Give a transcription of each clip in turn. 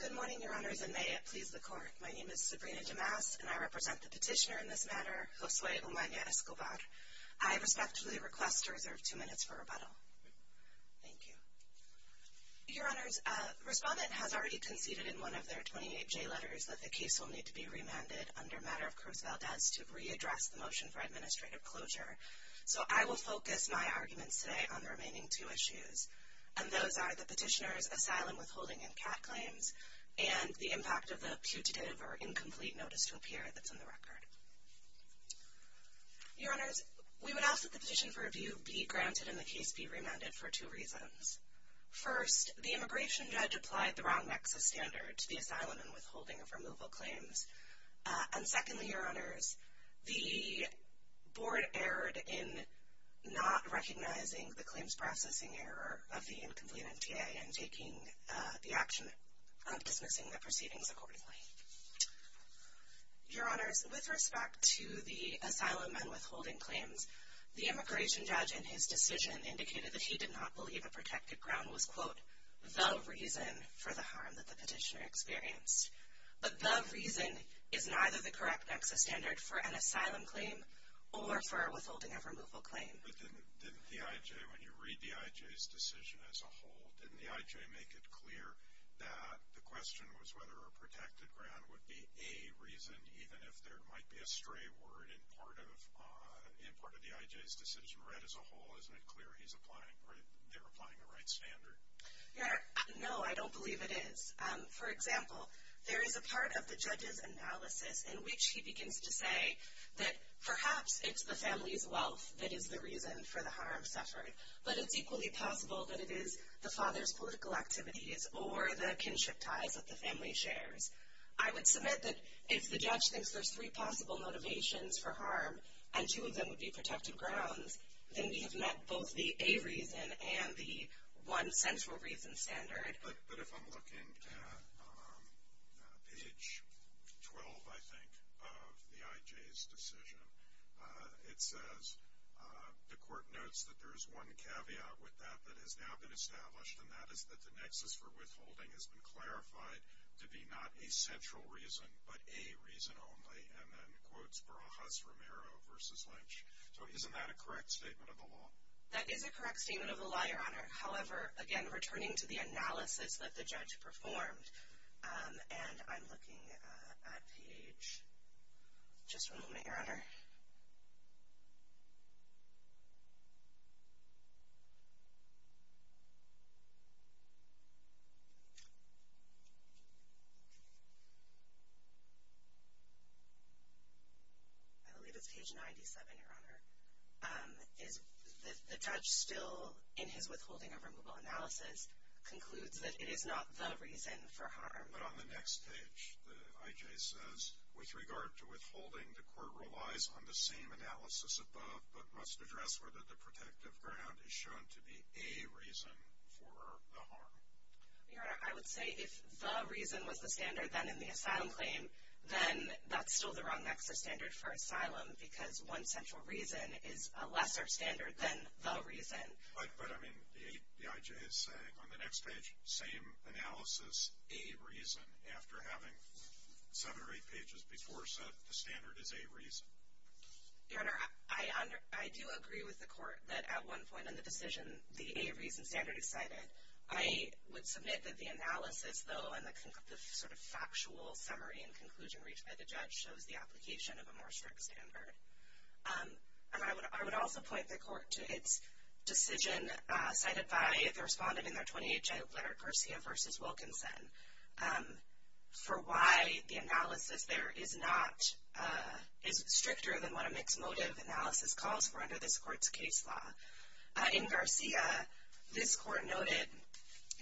Good morning, Your Honors, and may it please the Court. My name is Sabrina Damas, and I represent the petitioner in this matter, Josue Umana-Escobar. I respectfully request to reserve two minutes for rebuttal. Thank you. Your Honors, Respondent has already conceded in one of their 28J letters that the case will need to be remanded under matter of Cruz Valdez to readdress the motion for administrative closure. So I will focus my arguments today on the remaining two issues. And those are the petitioner's asylum withholding and CAT claims and the impact of the putative or incomplete notice to appear that's in the record. Your Honors, we would ask that the petition for review be granted and the case be remanded for two reasons. First, the immigration judge applied the wrong nexus standard to the asylum and withholding of removal claims. And secondly, Your Honors, the Board erred in not recognizing the claims processing error of the incomplete NTA and taking the action of dismissing the proceedings accordingly. Your Honors, with respect to the asylum and withholding claims, the immigration judge in his decision indicated that he did not believe a protected ground was, quote, the reason for the harm that the petitioner experienced. But the reason is neither the correct nexus standard for an asylum claim or for a withholding of removal claim. But didn't the IJ, when you read the IJ's decision as a whole, didn't the IJ make it clear that the question was whether a protected ground would be a reason, even if there might be a stray word in part of the IJ's decision read as a whole? Isn't it clear they're applying the right standard? Your Honor, no, I don't believe it is. For example, there is a part of the judge's analysis in which he begins to say that perhaps it's the family's wealth that is the reason for the harm suffered, but it's equally possible that it is the father's political activities or the kinship ties that the family shares. I would submit that if the judge thinks there's three possible motivations for harm and two of them would be protected grounds, then we have met both the a reason and the one central reason standard. But if I'm looking at page 12, I think, of the IJ's decision, it says the court notes that there is one caveat with that that has now been established, and that is that the nexus for withholding has been clarified to be not a central reason but a reason only, and then quotes Barajas-Romero v. Lynch. So isn't that a correct statement of the law? That is a correct statement of the law, Your Honor. I believe it's page 97, Your Honor. The judge, still in his withholding of removal analysis, concludes that it is not the reason for harm. But on the next page, the IJ says, with regard to withholding, the court relies on the same analysis above but must address whether the protective ground is shown to be a reason for the harm. Your Honor, I would say if the reason was the standard then in the asylum claim, then that's still the wrong nexus standard for asylum because one central reason is a lesser standard than the reason. But, I mean, the IJ is saying on the next page, same analysis, a reason after having seven or eight pages before said the standard is a reason. Your Honor, I do agree with the court that at one point in the decision the a reason standard is cited. I would submit that the analysis, though, and the sort of factual summary and conclusion reached by the judge shows the application of a more strict standard. And I would also point the court to its decision cited by the respondent in their 28th letter, Garcia v. Wilkinson, for why the analysis there is not, is stricter than what a mixed motive analysis calls for under this court's case law. In Garcia, this court noted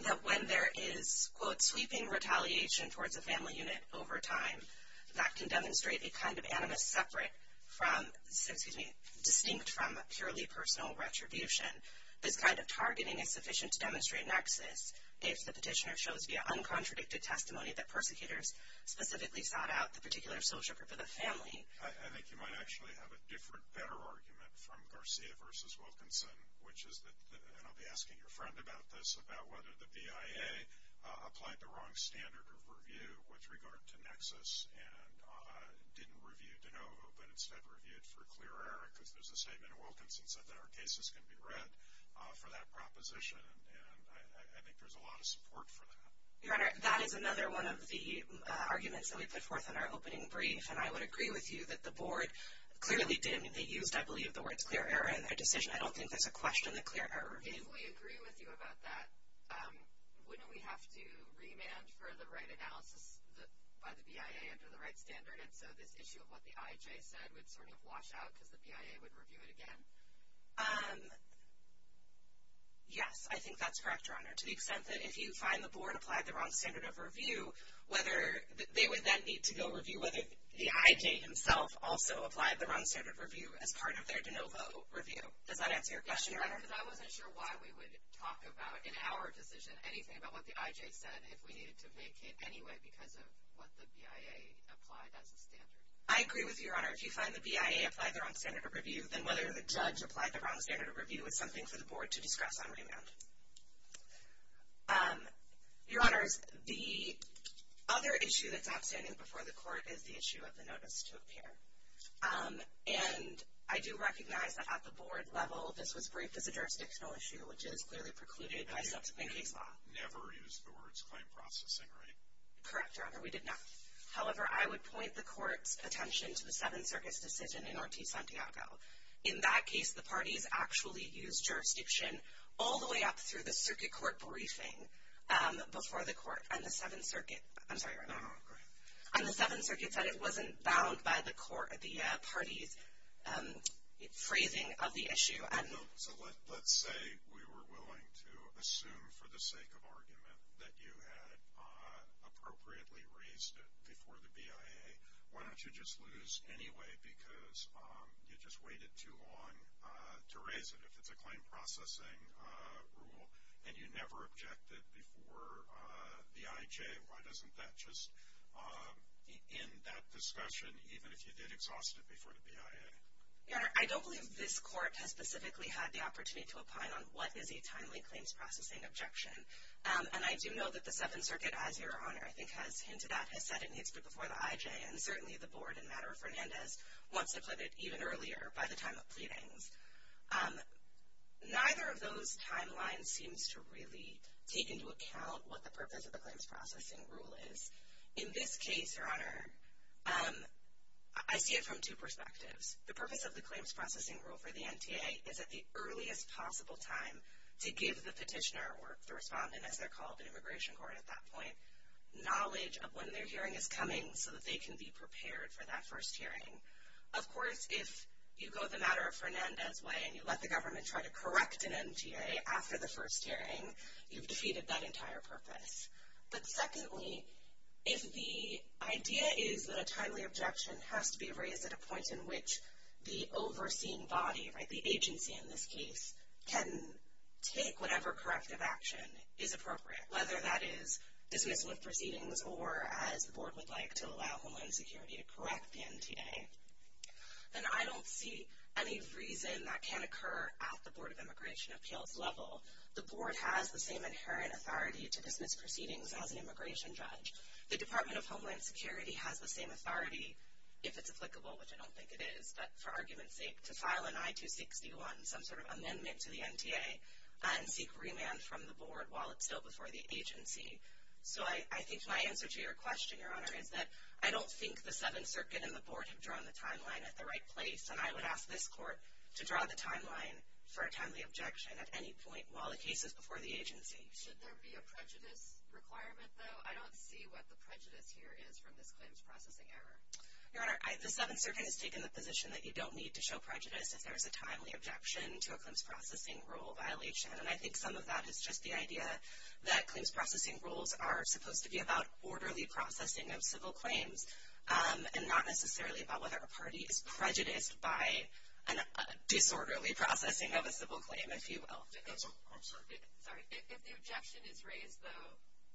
that when there is, quote, sweeping retaliation towards a family unit over time, that can demonstrate a kind of animus separate from, excuse me, distinct from purely personal retribution. This kind of targeting is sufficient to demonstrate a nexus if the petitioner shows via uncontradicted testimony that persecutors specifically sought out the particular social group of the family. I think you might actually have a different, better argument from Garcia v. Wilkinson, which is that, and I'll be asking your friend about this, about whether the BIA applied the wrong standard of review with regard to nexus and didn't review de novo but instead reviewed for clear error because there's a statement in Wilkinson said that our cases can be read for that proposition. And I think there's a lot of support for that. Your Honor, that is another one of the arguments that we put forth in our opening brief. And I would agree with you that the Board clearly did. I mean, they used, I believe, the words clear error in their decision. I don't think there's a question that clear error reviews. If we agree with you about that, wouldn't we have to remand for the right analysis by the BIA under the right standard? And so this issue of what the IJ said would sort of wash out because the BIA would review it again? Yes, I think that's correct, Your Honor, they would then need to go review whether the IJ himself also applied the wrong standard of review as part of their de novo review. Does that answer your question, Your Honor? Yes, because I wasn't sure why we would talk about, in our decision, anything about what the IJ said if we needed to vacate anyway because of what the BIA applied as a standard. I agree with you, Your Honor. If you find the BIA applied the wrong standard of review, then whether the judge applied the wrong standard of review is something for the Board to discuss on remand. Your Honors, the other issue that's outstanding before the Court is the issue of the notice to appear. And I do recognize that at the Board level, this was briefed as a jurisdictional issue, which is clearly precluded by subsequent case law. You never used the words claim processing, right? Correct, Your Honor, we did not. However, I would point the Court's attention to the Seventh Circuit's decision in Ortiz-Santiago. In that case, the parties actually used jurisdiction all the way up through the Circuit Court briefing before the Court. And the Seventh Circuit said it wasn't bound by the parties' phrasing of the issue. So let's say we were willing to assume for the sake of argument that you had appropriately raised it before the BIA. Why don't you just lose anyway because you just waited too long to raise it? If it's a claim processing rule and you never objected before the IJ, why doesn't that just end that discussion even if you did exhaust it before the BIA? Your Honor, I don't believe this Court has specifically had the opportunity to opine on what is a timely claims processing objection. And I do know that the Seventh Circuit, as Your Honor I think has hinted at, has said it needs to be before the IJ, and certainly the Board in matter of Fernandez wants to put it even earlier by the time of pleadings. Neither of those timelines seems to really take into account what the purpose of the claims processing rule is. In this case, Your Honor, I see it from two perspectives. The purpose of the claims processing rule for the NTA is at the earliest possible time to give the petitioner, or the respondent as they're called in immigration court at that point, knowledge of when their hearing is coming so that they can be prepared for that first hearing. Of course, if you go the matter of Fernandez way and you let the government try to correct an NTA after the first hearing, you've defeated that entire purpose. But secondly, if the idea is that a timely objection has to be raised at a point in which the overseeing body, the agency in this case, can take whatever corrective action is appropriate, whether that is dismissal of proceedings or, as the Board would like, to allow Homeland Security to correct the NTA, then I don't see any reason that can occur at the Board of Immigration Appeals level. The Board has the same inherent authority to dismiss proceedings as an immigration judge. The Department of Homeland Security has the same authority, if it's applicable, which I don't think it is, but for argument's sake, to file an I-261, some sort of amendment to the NTA, and seek remand from the Board while it's still before the agency. So I think my answer to your question, Your Honor, is that I don't think the Seventh Circuit and the Board have drawn the timeline at the right place, and I would ask this Court to draw the timeline for a timely objection at any point while the case is before the agency. Should there be a prejudice requirement, though? I don't see what the prejudice here is from this claims processing error. Your Honor, the Seventh Circuit has taken the position that you don't need to show prejudice if there is a timely objection to a claims processing rule violation, and I think some of that is just the idea that claims processing rules are supposed to be about orderly processing of civil claims, and not necessarily about whether a party is prejudiced by disorderly processing of a civil claim, if you will. I'm sorry. Sorry. If the objection is raised, though,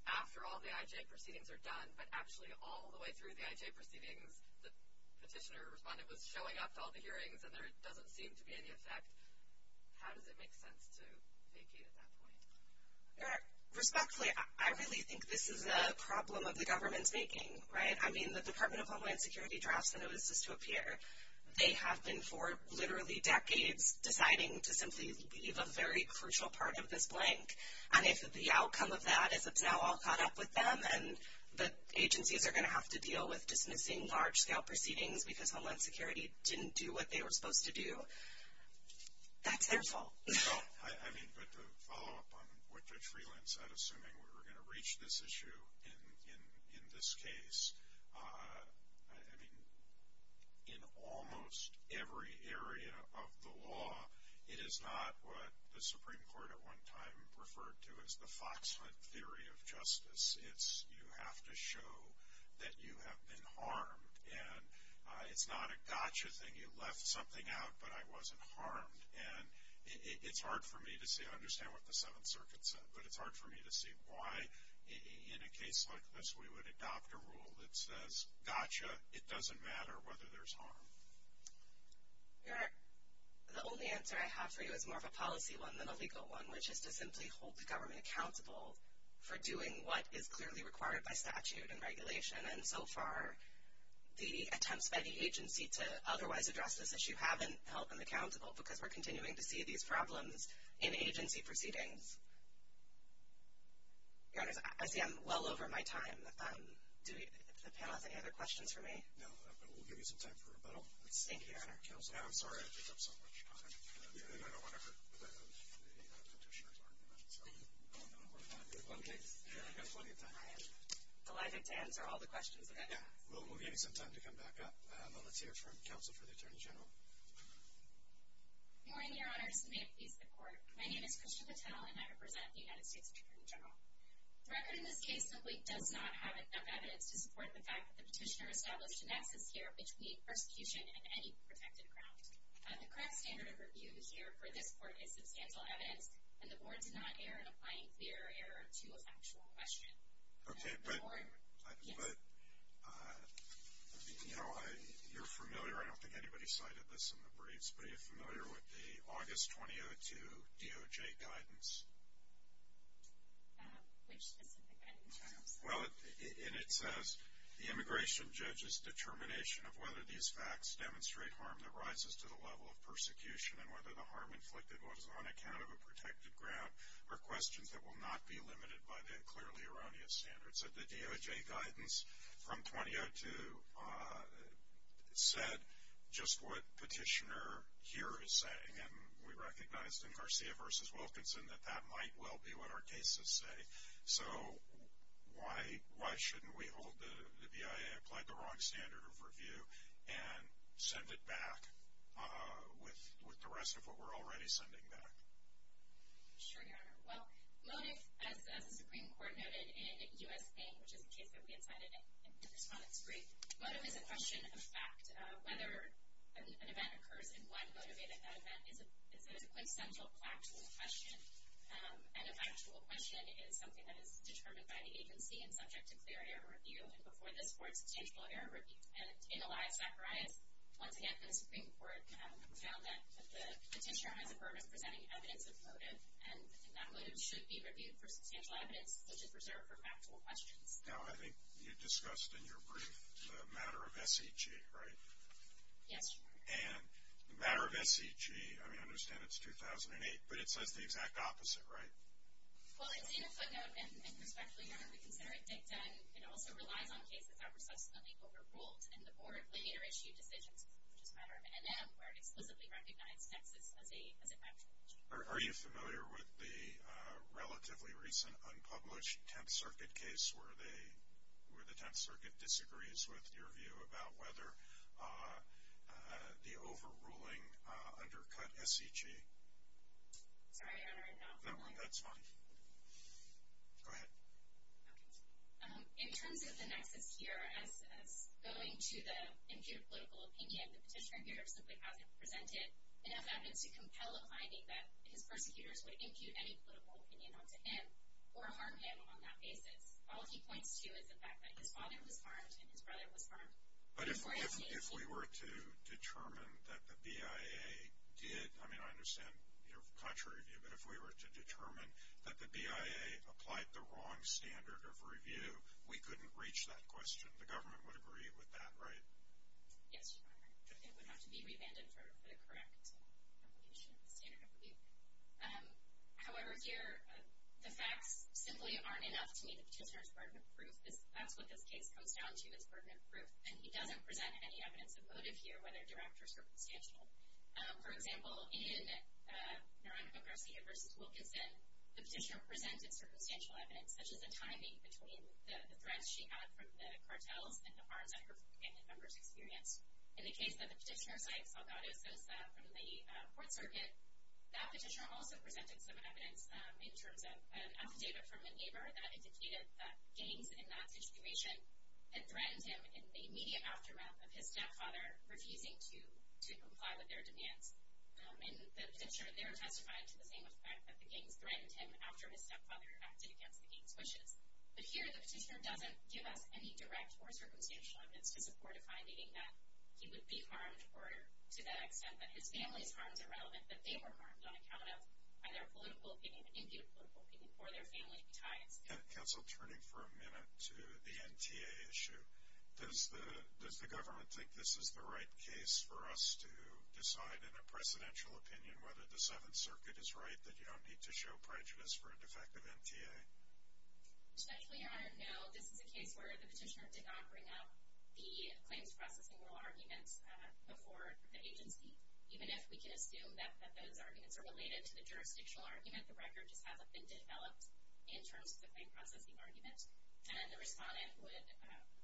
after all the IJ proceedings are done, but actually all the way through the IJ proceedings the petitioner or respondent was showing up to all the hearings and there doesn't seem to be any effect, how does it make sense to vacate at that point? Your Honor, respectfully, I really think this is a problem of the government's making, right? I mean, the Department of Homeland Security drafts that it was just to appear, they have been for literally decades deciding to simply leave a very crucial part of this blank, and if the outcome of that is it's now all caught up with them and the agencies are going to have to deal with dismissing large-scale proceedings because Homeland Security didn't do what they were supposed to do, that's their fault. Well, I mean, but to follow up on what Judge Freeland said, assuming we were going to reach this issue in this case, I mean, in almost every area of the law, it is not what the Supreme Court at one time referred to as the fox hunt theory of justice. It's you have to show that you have been harmed, and it's not a gotcha thing. You left something out, but I wasn't harmed. And it's hard for me to say I understand what the Seventh Circuit said, but it's hard for me to see why in a case like this we would adopt a rule that says, gotcha, it doesn't matter whether there's harm. Your Honor, the only answer I have for you is more of a policy one than a legal one, which is to simply hold the government accountable for doing what is clearly required by statute and regulation. And so far, the attempts by the agency to otherwise address this issue haven't held them accountable because we're continuing to see these problems in agency proceedings. Your Honors, I see I'm well over my time. Do the panel have any other questions for me? No, but we'll give you some time for rebuttal. Thank you, Your Honor. Counselor? I'm sorry I picked up so much time, and I don't want to hurt the Petitioner's argument. So I'm going to move on. Okay. We've got plenty of time. I am delighted to answer all the questions that I have. Yeah, we'll give you some time to come back up. Let's hear from Counsel for the Attorney General. Good morning, Your Honors, and may it please the Court. My name is Krishna Patel, and I represent the United States Attorney General. The record in this case simply does not have enough evidence to support the fact that the Petitioner established an axis here between persecution and any protected ground. The current standard of review here for this Court is substantial evidence, and the Board did not err in applying clear error to a factual question. Okay, but, you know, you're familiar, I don't think anybody cited this in the briefs, but are you familiar with the August 2002 DOJ guidance? Which specific guidance? Well, and it says, the immigration judge's determination of whether these facts demonstrate harm that rises to the level of persecution and whether the harm inflicted was on account of a protected ground are questions that will not be limited by the clearly erroneous standards. So the DOJ guidance from 2002 said just what Petitioner here is saying, and we recognized in Garcia v. Wilkinson that that might well be what our cases say. So why shouldn't we hold the BIA applied the wrong standard of review and send it back with the rest of what we're already sending back? Sure, Your Honor. Well, motive, as the Supreme Court noted in U.S.A., which is the case that we had cited in response to the brief, motive is a question of fact. Whether an event occurs and why motivated that event is a quintessential factual question, and a factual question is something that is determined by the agency and subject to clear error review, and before this Court, substantial error review. And in Elias Zacharias, once again, the Supreme Court found that Petitioner has a burden of presenting evidence of motive, and that motive should be reviewed for substantial evidence, which is reserved for factual questions. Now, I think you discussed in your brief the matter of SEG, right? Yes, Your Honor. And the matter of SEG, I mean, I understand it's 2008, but it says the exact opposite, right? Well, it's in a footnote, and respectfully, Your Honor, we consider it dicta, and it also relies on cases that were subsequently overruled, and the Board later issued decisions, which is the matter of NM, where it explicitly recognized Nexus as a factual issue. Are you familiar with the relatively recent unpublished Tenth Circuit case where the Tenth Circuit disagrees with your view about whether the overruling undercut SEG? Sorry, Your Honor, I'm not familiar. No, that's fine. Go ahead. Okay. In terms of the Nexus here, as going to the imputed political opinion, the Petitioner here simply hasn't presented enough evidence to compel a finding that his persecutors would impute any political opinion onto him or harm him on that basis. All he points to is the fact that his father was harmed and his brother was harmed. But if we were to determine that the BIA did, I mean, I understand your contrary view, but if we were to determine that the BIA applied the wrong standard of review, we couldn't reach that question. The government would agree with that, right? Yes, Your Honor. It would have to be revanded for the correct standard of review. However, here the facts simply aren't enough to meet the Petitioner's burden of proof. That's what this case comes down to is burden of proof, and he doesn't present any evidence of motive here, whether direct or circumstantial. For example, in Naranjo Garcia v. Wilkinson, the Petitioner presented circumstantial evidence, such as the timing between the threats she had from the cartels and the harms that her companion members experienced. In the case of the Petitioner's wife, Salgado Sosa, from the Court Circuit, that Petitioner also presented some evidence in terms of an affidavit from a neighbor that indicated that gangs in that situation had threatened him in the immediate aftermath of his stepfather refusing to comply with their demands. In the Petitioner, they're testified to the same effect, that the gangs threatened him after his stepfather acted against the gangs' wishes. But here the Petitioner doesn't give us any direct or circumstantial evidence to support a finding that he would be harmed or, to that extent, that his family's harms are relevant, that they were harmed on account of either political opinion, imputed political opinion, or their family ties. Counsel, turning for a minute to the NTA issue, does the government think this is the right case for us to decide in a presidential opinion whether the Seventh Circuit is right, that you don't need to show prejudice for a defective NTA? Especially, Your Honor, no. This is a case where the Petitioner did not bring up the claims processing rule arguments before the agency. Even if we can assume that those arguments are related to the jurisdictional argument, the record just hasn't been developed in terms of the claim processing argument. And the Respondent would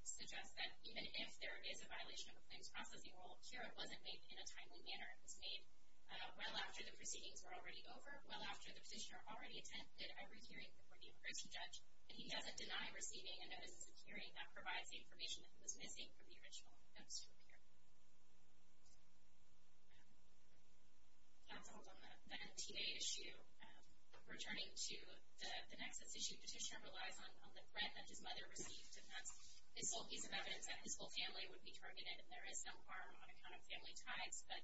suggest that even if there is a violation of the claims processing rule, a hearing wasn't made in a timely manner. It was made well after the proceedings were already over, well after the Petitioner already attended every hearing before the Immigration Judge, and he doesn't deny receiving a notice of hearing that provides the information that he was missing from the original notice of hearing. Counsel, on the NTA issue, returning to the nexus issue, the Petitioner relies on the threat that his mother received, and that's this whole piece of evidence that his whole family would be targeted, and there is some harm on account of family ties, but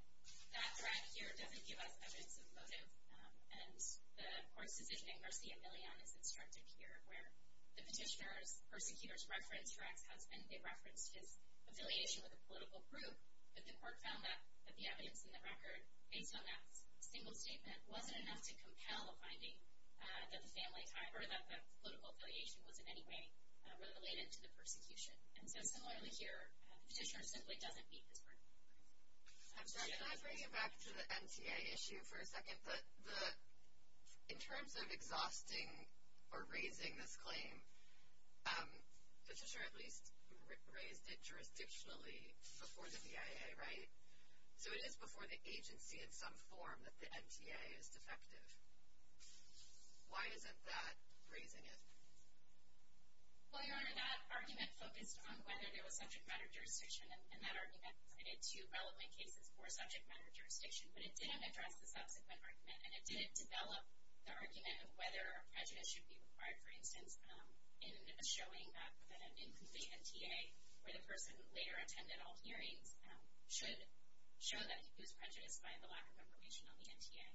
that threat here doesn't give us evidence of motive, and the Court's decision in Garcia-Millan is instructive here, where the Petitioner's persecutors referenced her ex-husband, they referenced his affiliation with a political group, but the Court found that the evidence in the record, based on that single statement, wasn't enough to compel the finding that the family tie, or that political affiliation was in any way related to the persecution. And so similarly here, the Petitioner simply doesn't meet this burden. I'm sorry, can I bring you back to the NTA issue for a second? In terms of exhausting or raising this claim, the Petitioner at least raised it jurisdictionally before the CIA, right? So it is before the agency in some form that the NTA is defective. Why isn't that raising it? Well, Your Honor, that argument focused on whether there was subject matter jurisdiction, and that argument cited two relevant cases for subject matter jurisdiction, but it didn't address the subsequent argument, and it didn't develop the argument of whether prejudice should be required, for instance, in showing that an incomplete NTA, where the person later attended all hearings, should show that he was prejudiced by the lack of information on the NTA.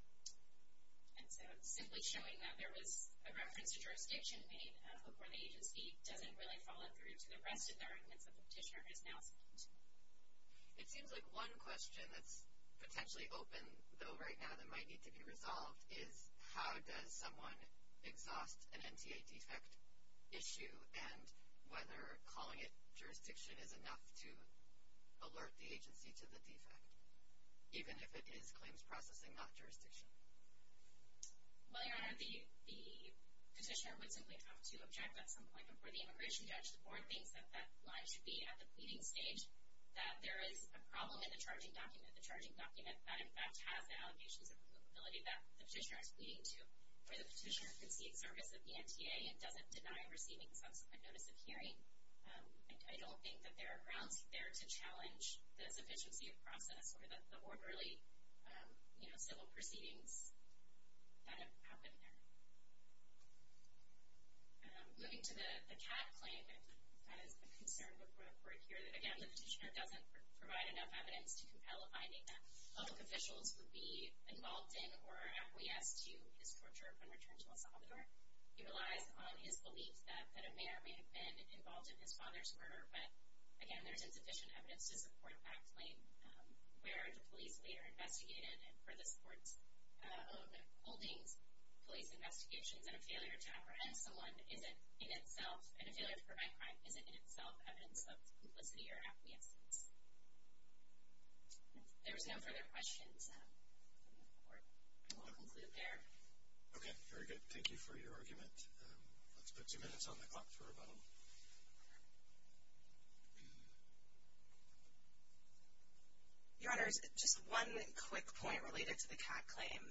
And so simply showing that there was a reference to jurisdiction made before the agency doesn't really follow through to the rest of the arguments that the Petitioner is now speaking to. It seems like one question that's potentially open, though, right now, that might need to be resolved is how does someone exhaust an NTA defect issue, and whether calling it jurisdiction is enough to alert the agency to the defect, even if it is claims processing, not jurisdiction. Well, Your Honor, the Petitioner would simply have to object at some point before the immigration judge or thinks that that line should be at the pleading stage, that there is a problem in the charging document, the charging document that, in fact, has the allegations of applicability that the Petitioner is pleading to, where the Petitioner concedes service of the NTA and doesn't deny receiving subsequent notice of hearing. I don't think that there are grounds there to challenge the sufficiency of process or the orderly civil proceedings that have happened there. Moving to the Catt claim, that is a concern before the Court here, that, again, the Petitioner doesn't provide enough evidence to compel a finding that public officials would be involved in or acquiesce to his torture when returned to El Salvador. He relies on his belief that a mayor may have been involved in his father's murder, but, again, there is insufficient evidence to support that claim. Where do police later investigate it? And for this Court's holdings, police investigations and a failure to apprehend someone isn't in itself, and a failure to prevent crime isn't in itself evidence of complicity or acquiescence. If there are no further questions, we will conclude there. Okay. Very good. Thank you for your argument. Let's put two minutes on the clock for a vote. Your Honors, just one quick point related to the Catt claim.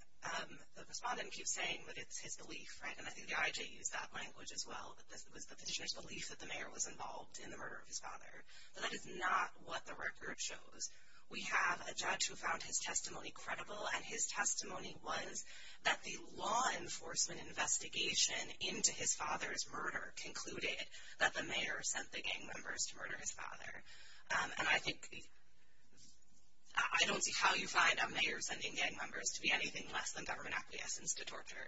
The Respondent keeps saying that it's his belief, right, and I think the IJ used that language as well, that it was the Petitioner's belief that the mayor was involved in the murder of his father. But that is not what the record shows. We have a judge who found his testimony credible, and his testimony was that the law enforcement investigation into his father's murder concluded that the mayor sent the gang members to murder his father. And I think I don't see how you find a mayor sending gang members to be anything less than government acquiescence to torture,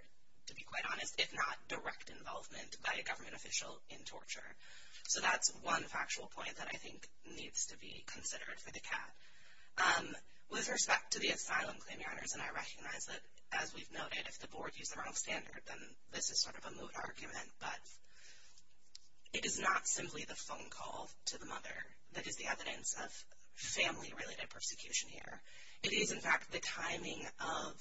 to be quite honest, if not direct involvement by a government official in torture. So that's one factual point that I think needs to be considered for the Catt. With respect to the asylum claim, Your Honors, and I recognize that, as we've noted, if the Board used the wrong standard, then this is sort of a moot argument, but it is not simply the phone call to the mother that is the evidence of family-related persecution here. It is, in fact, the timing of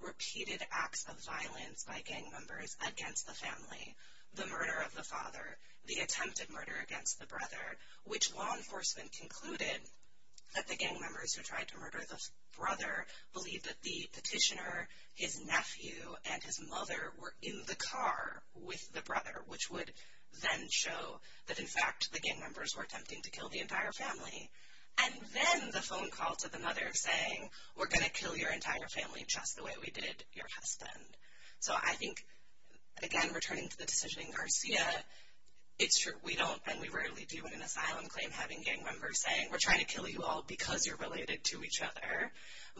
repeated acts of violence by gang members against the family, the murder of the father, the attempted murder against the brother, which law enforcement concluded that the gang members who tried to murder the brother believed that the petitioner, his nephew, and his mother were in the car with the brother, which would then show that, in fact, the gang members were attempting to kill the entire family. And then the phone call to the mother saying, we're going to kill your entire family just the way we did your husband. So I think, again, returning to the decision in Garcia, it's true. We don't and we rarely do in an asylum claim having gang members saying, we're trying to kill you all because you're related to each other.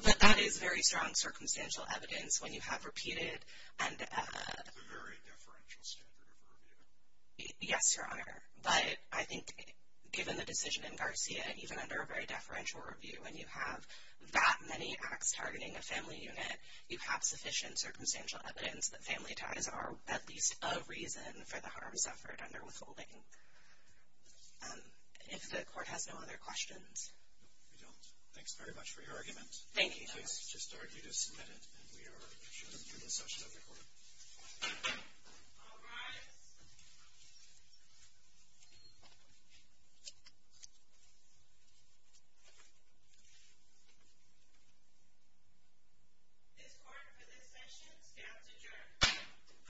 But that is very strong circumstantial evidence when you have repeated and… A very deferential standard of review. Yes, Your Honor. But I think, given the decision in Garcia, even under a very deferential review, when you have that many acts targeting a family unit, you have sufficient circumstantial evidence that family ties are at least a reason for the harm suffered under withholding. If the Court has no other questions. No, we don't. Thanks very much for your argument. Thank you, Your Honor. Please just argue to submit it, and we are sure to do as such to the Court. All rise. This Court, for this session, stands adjourned.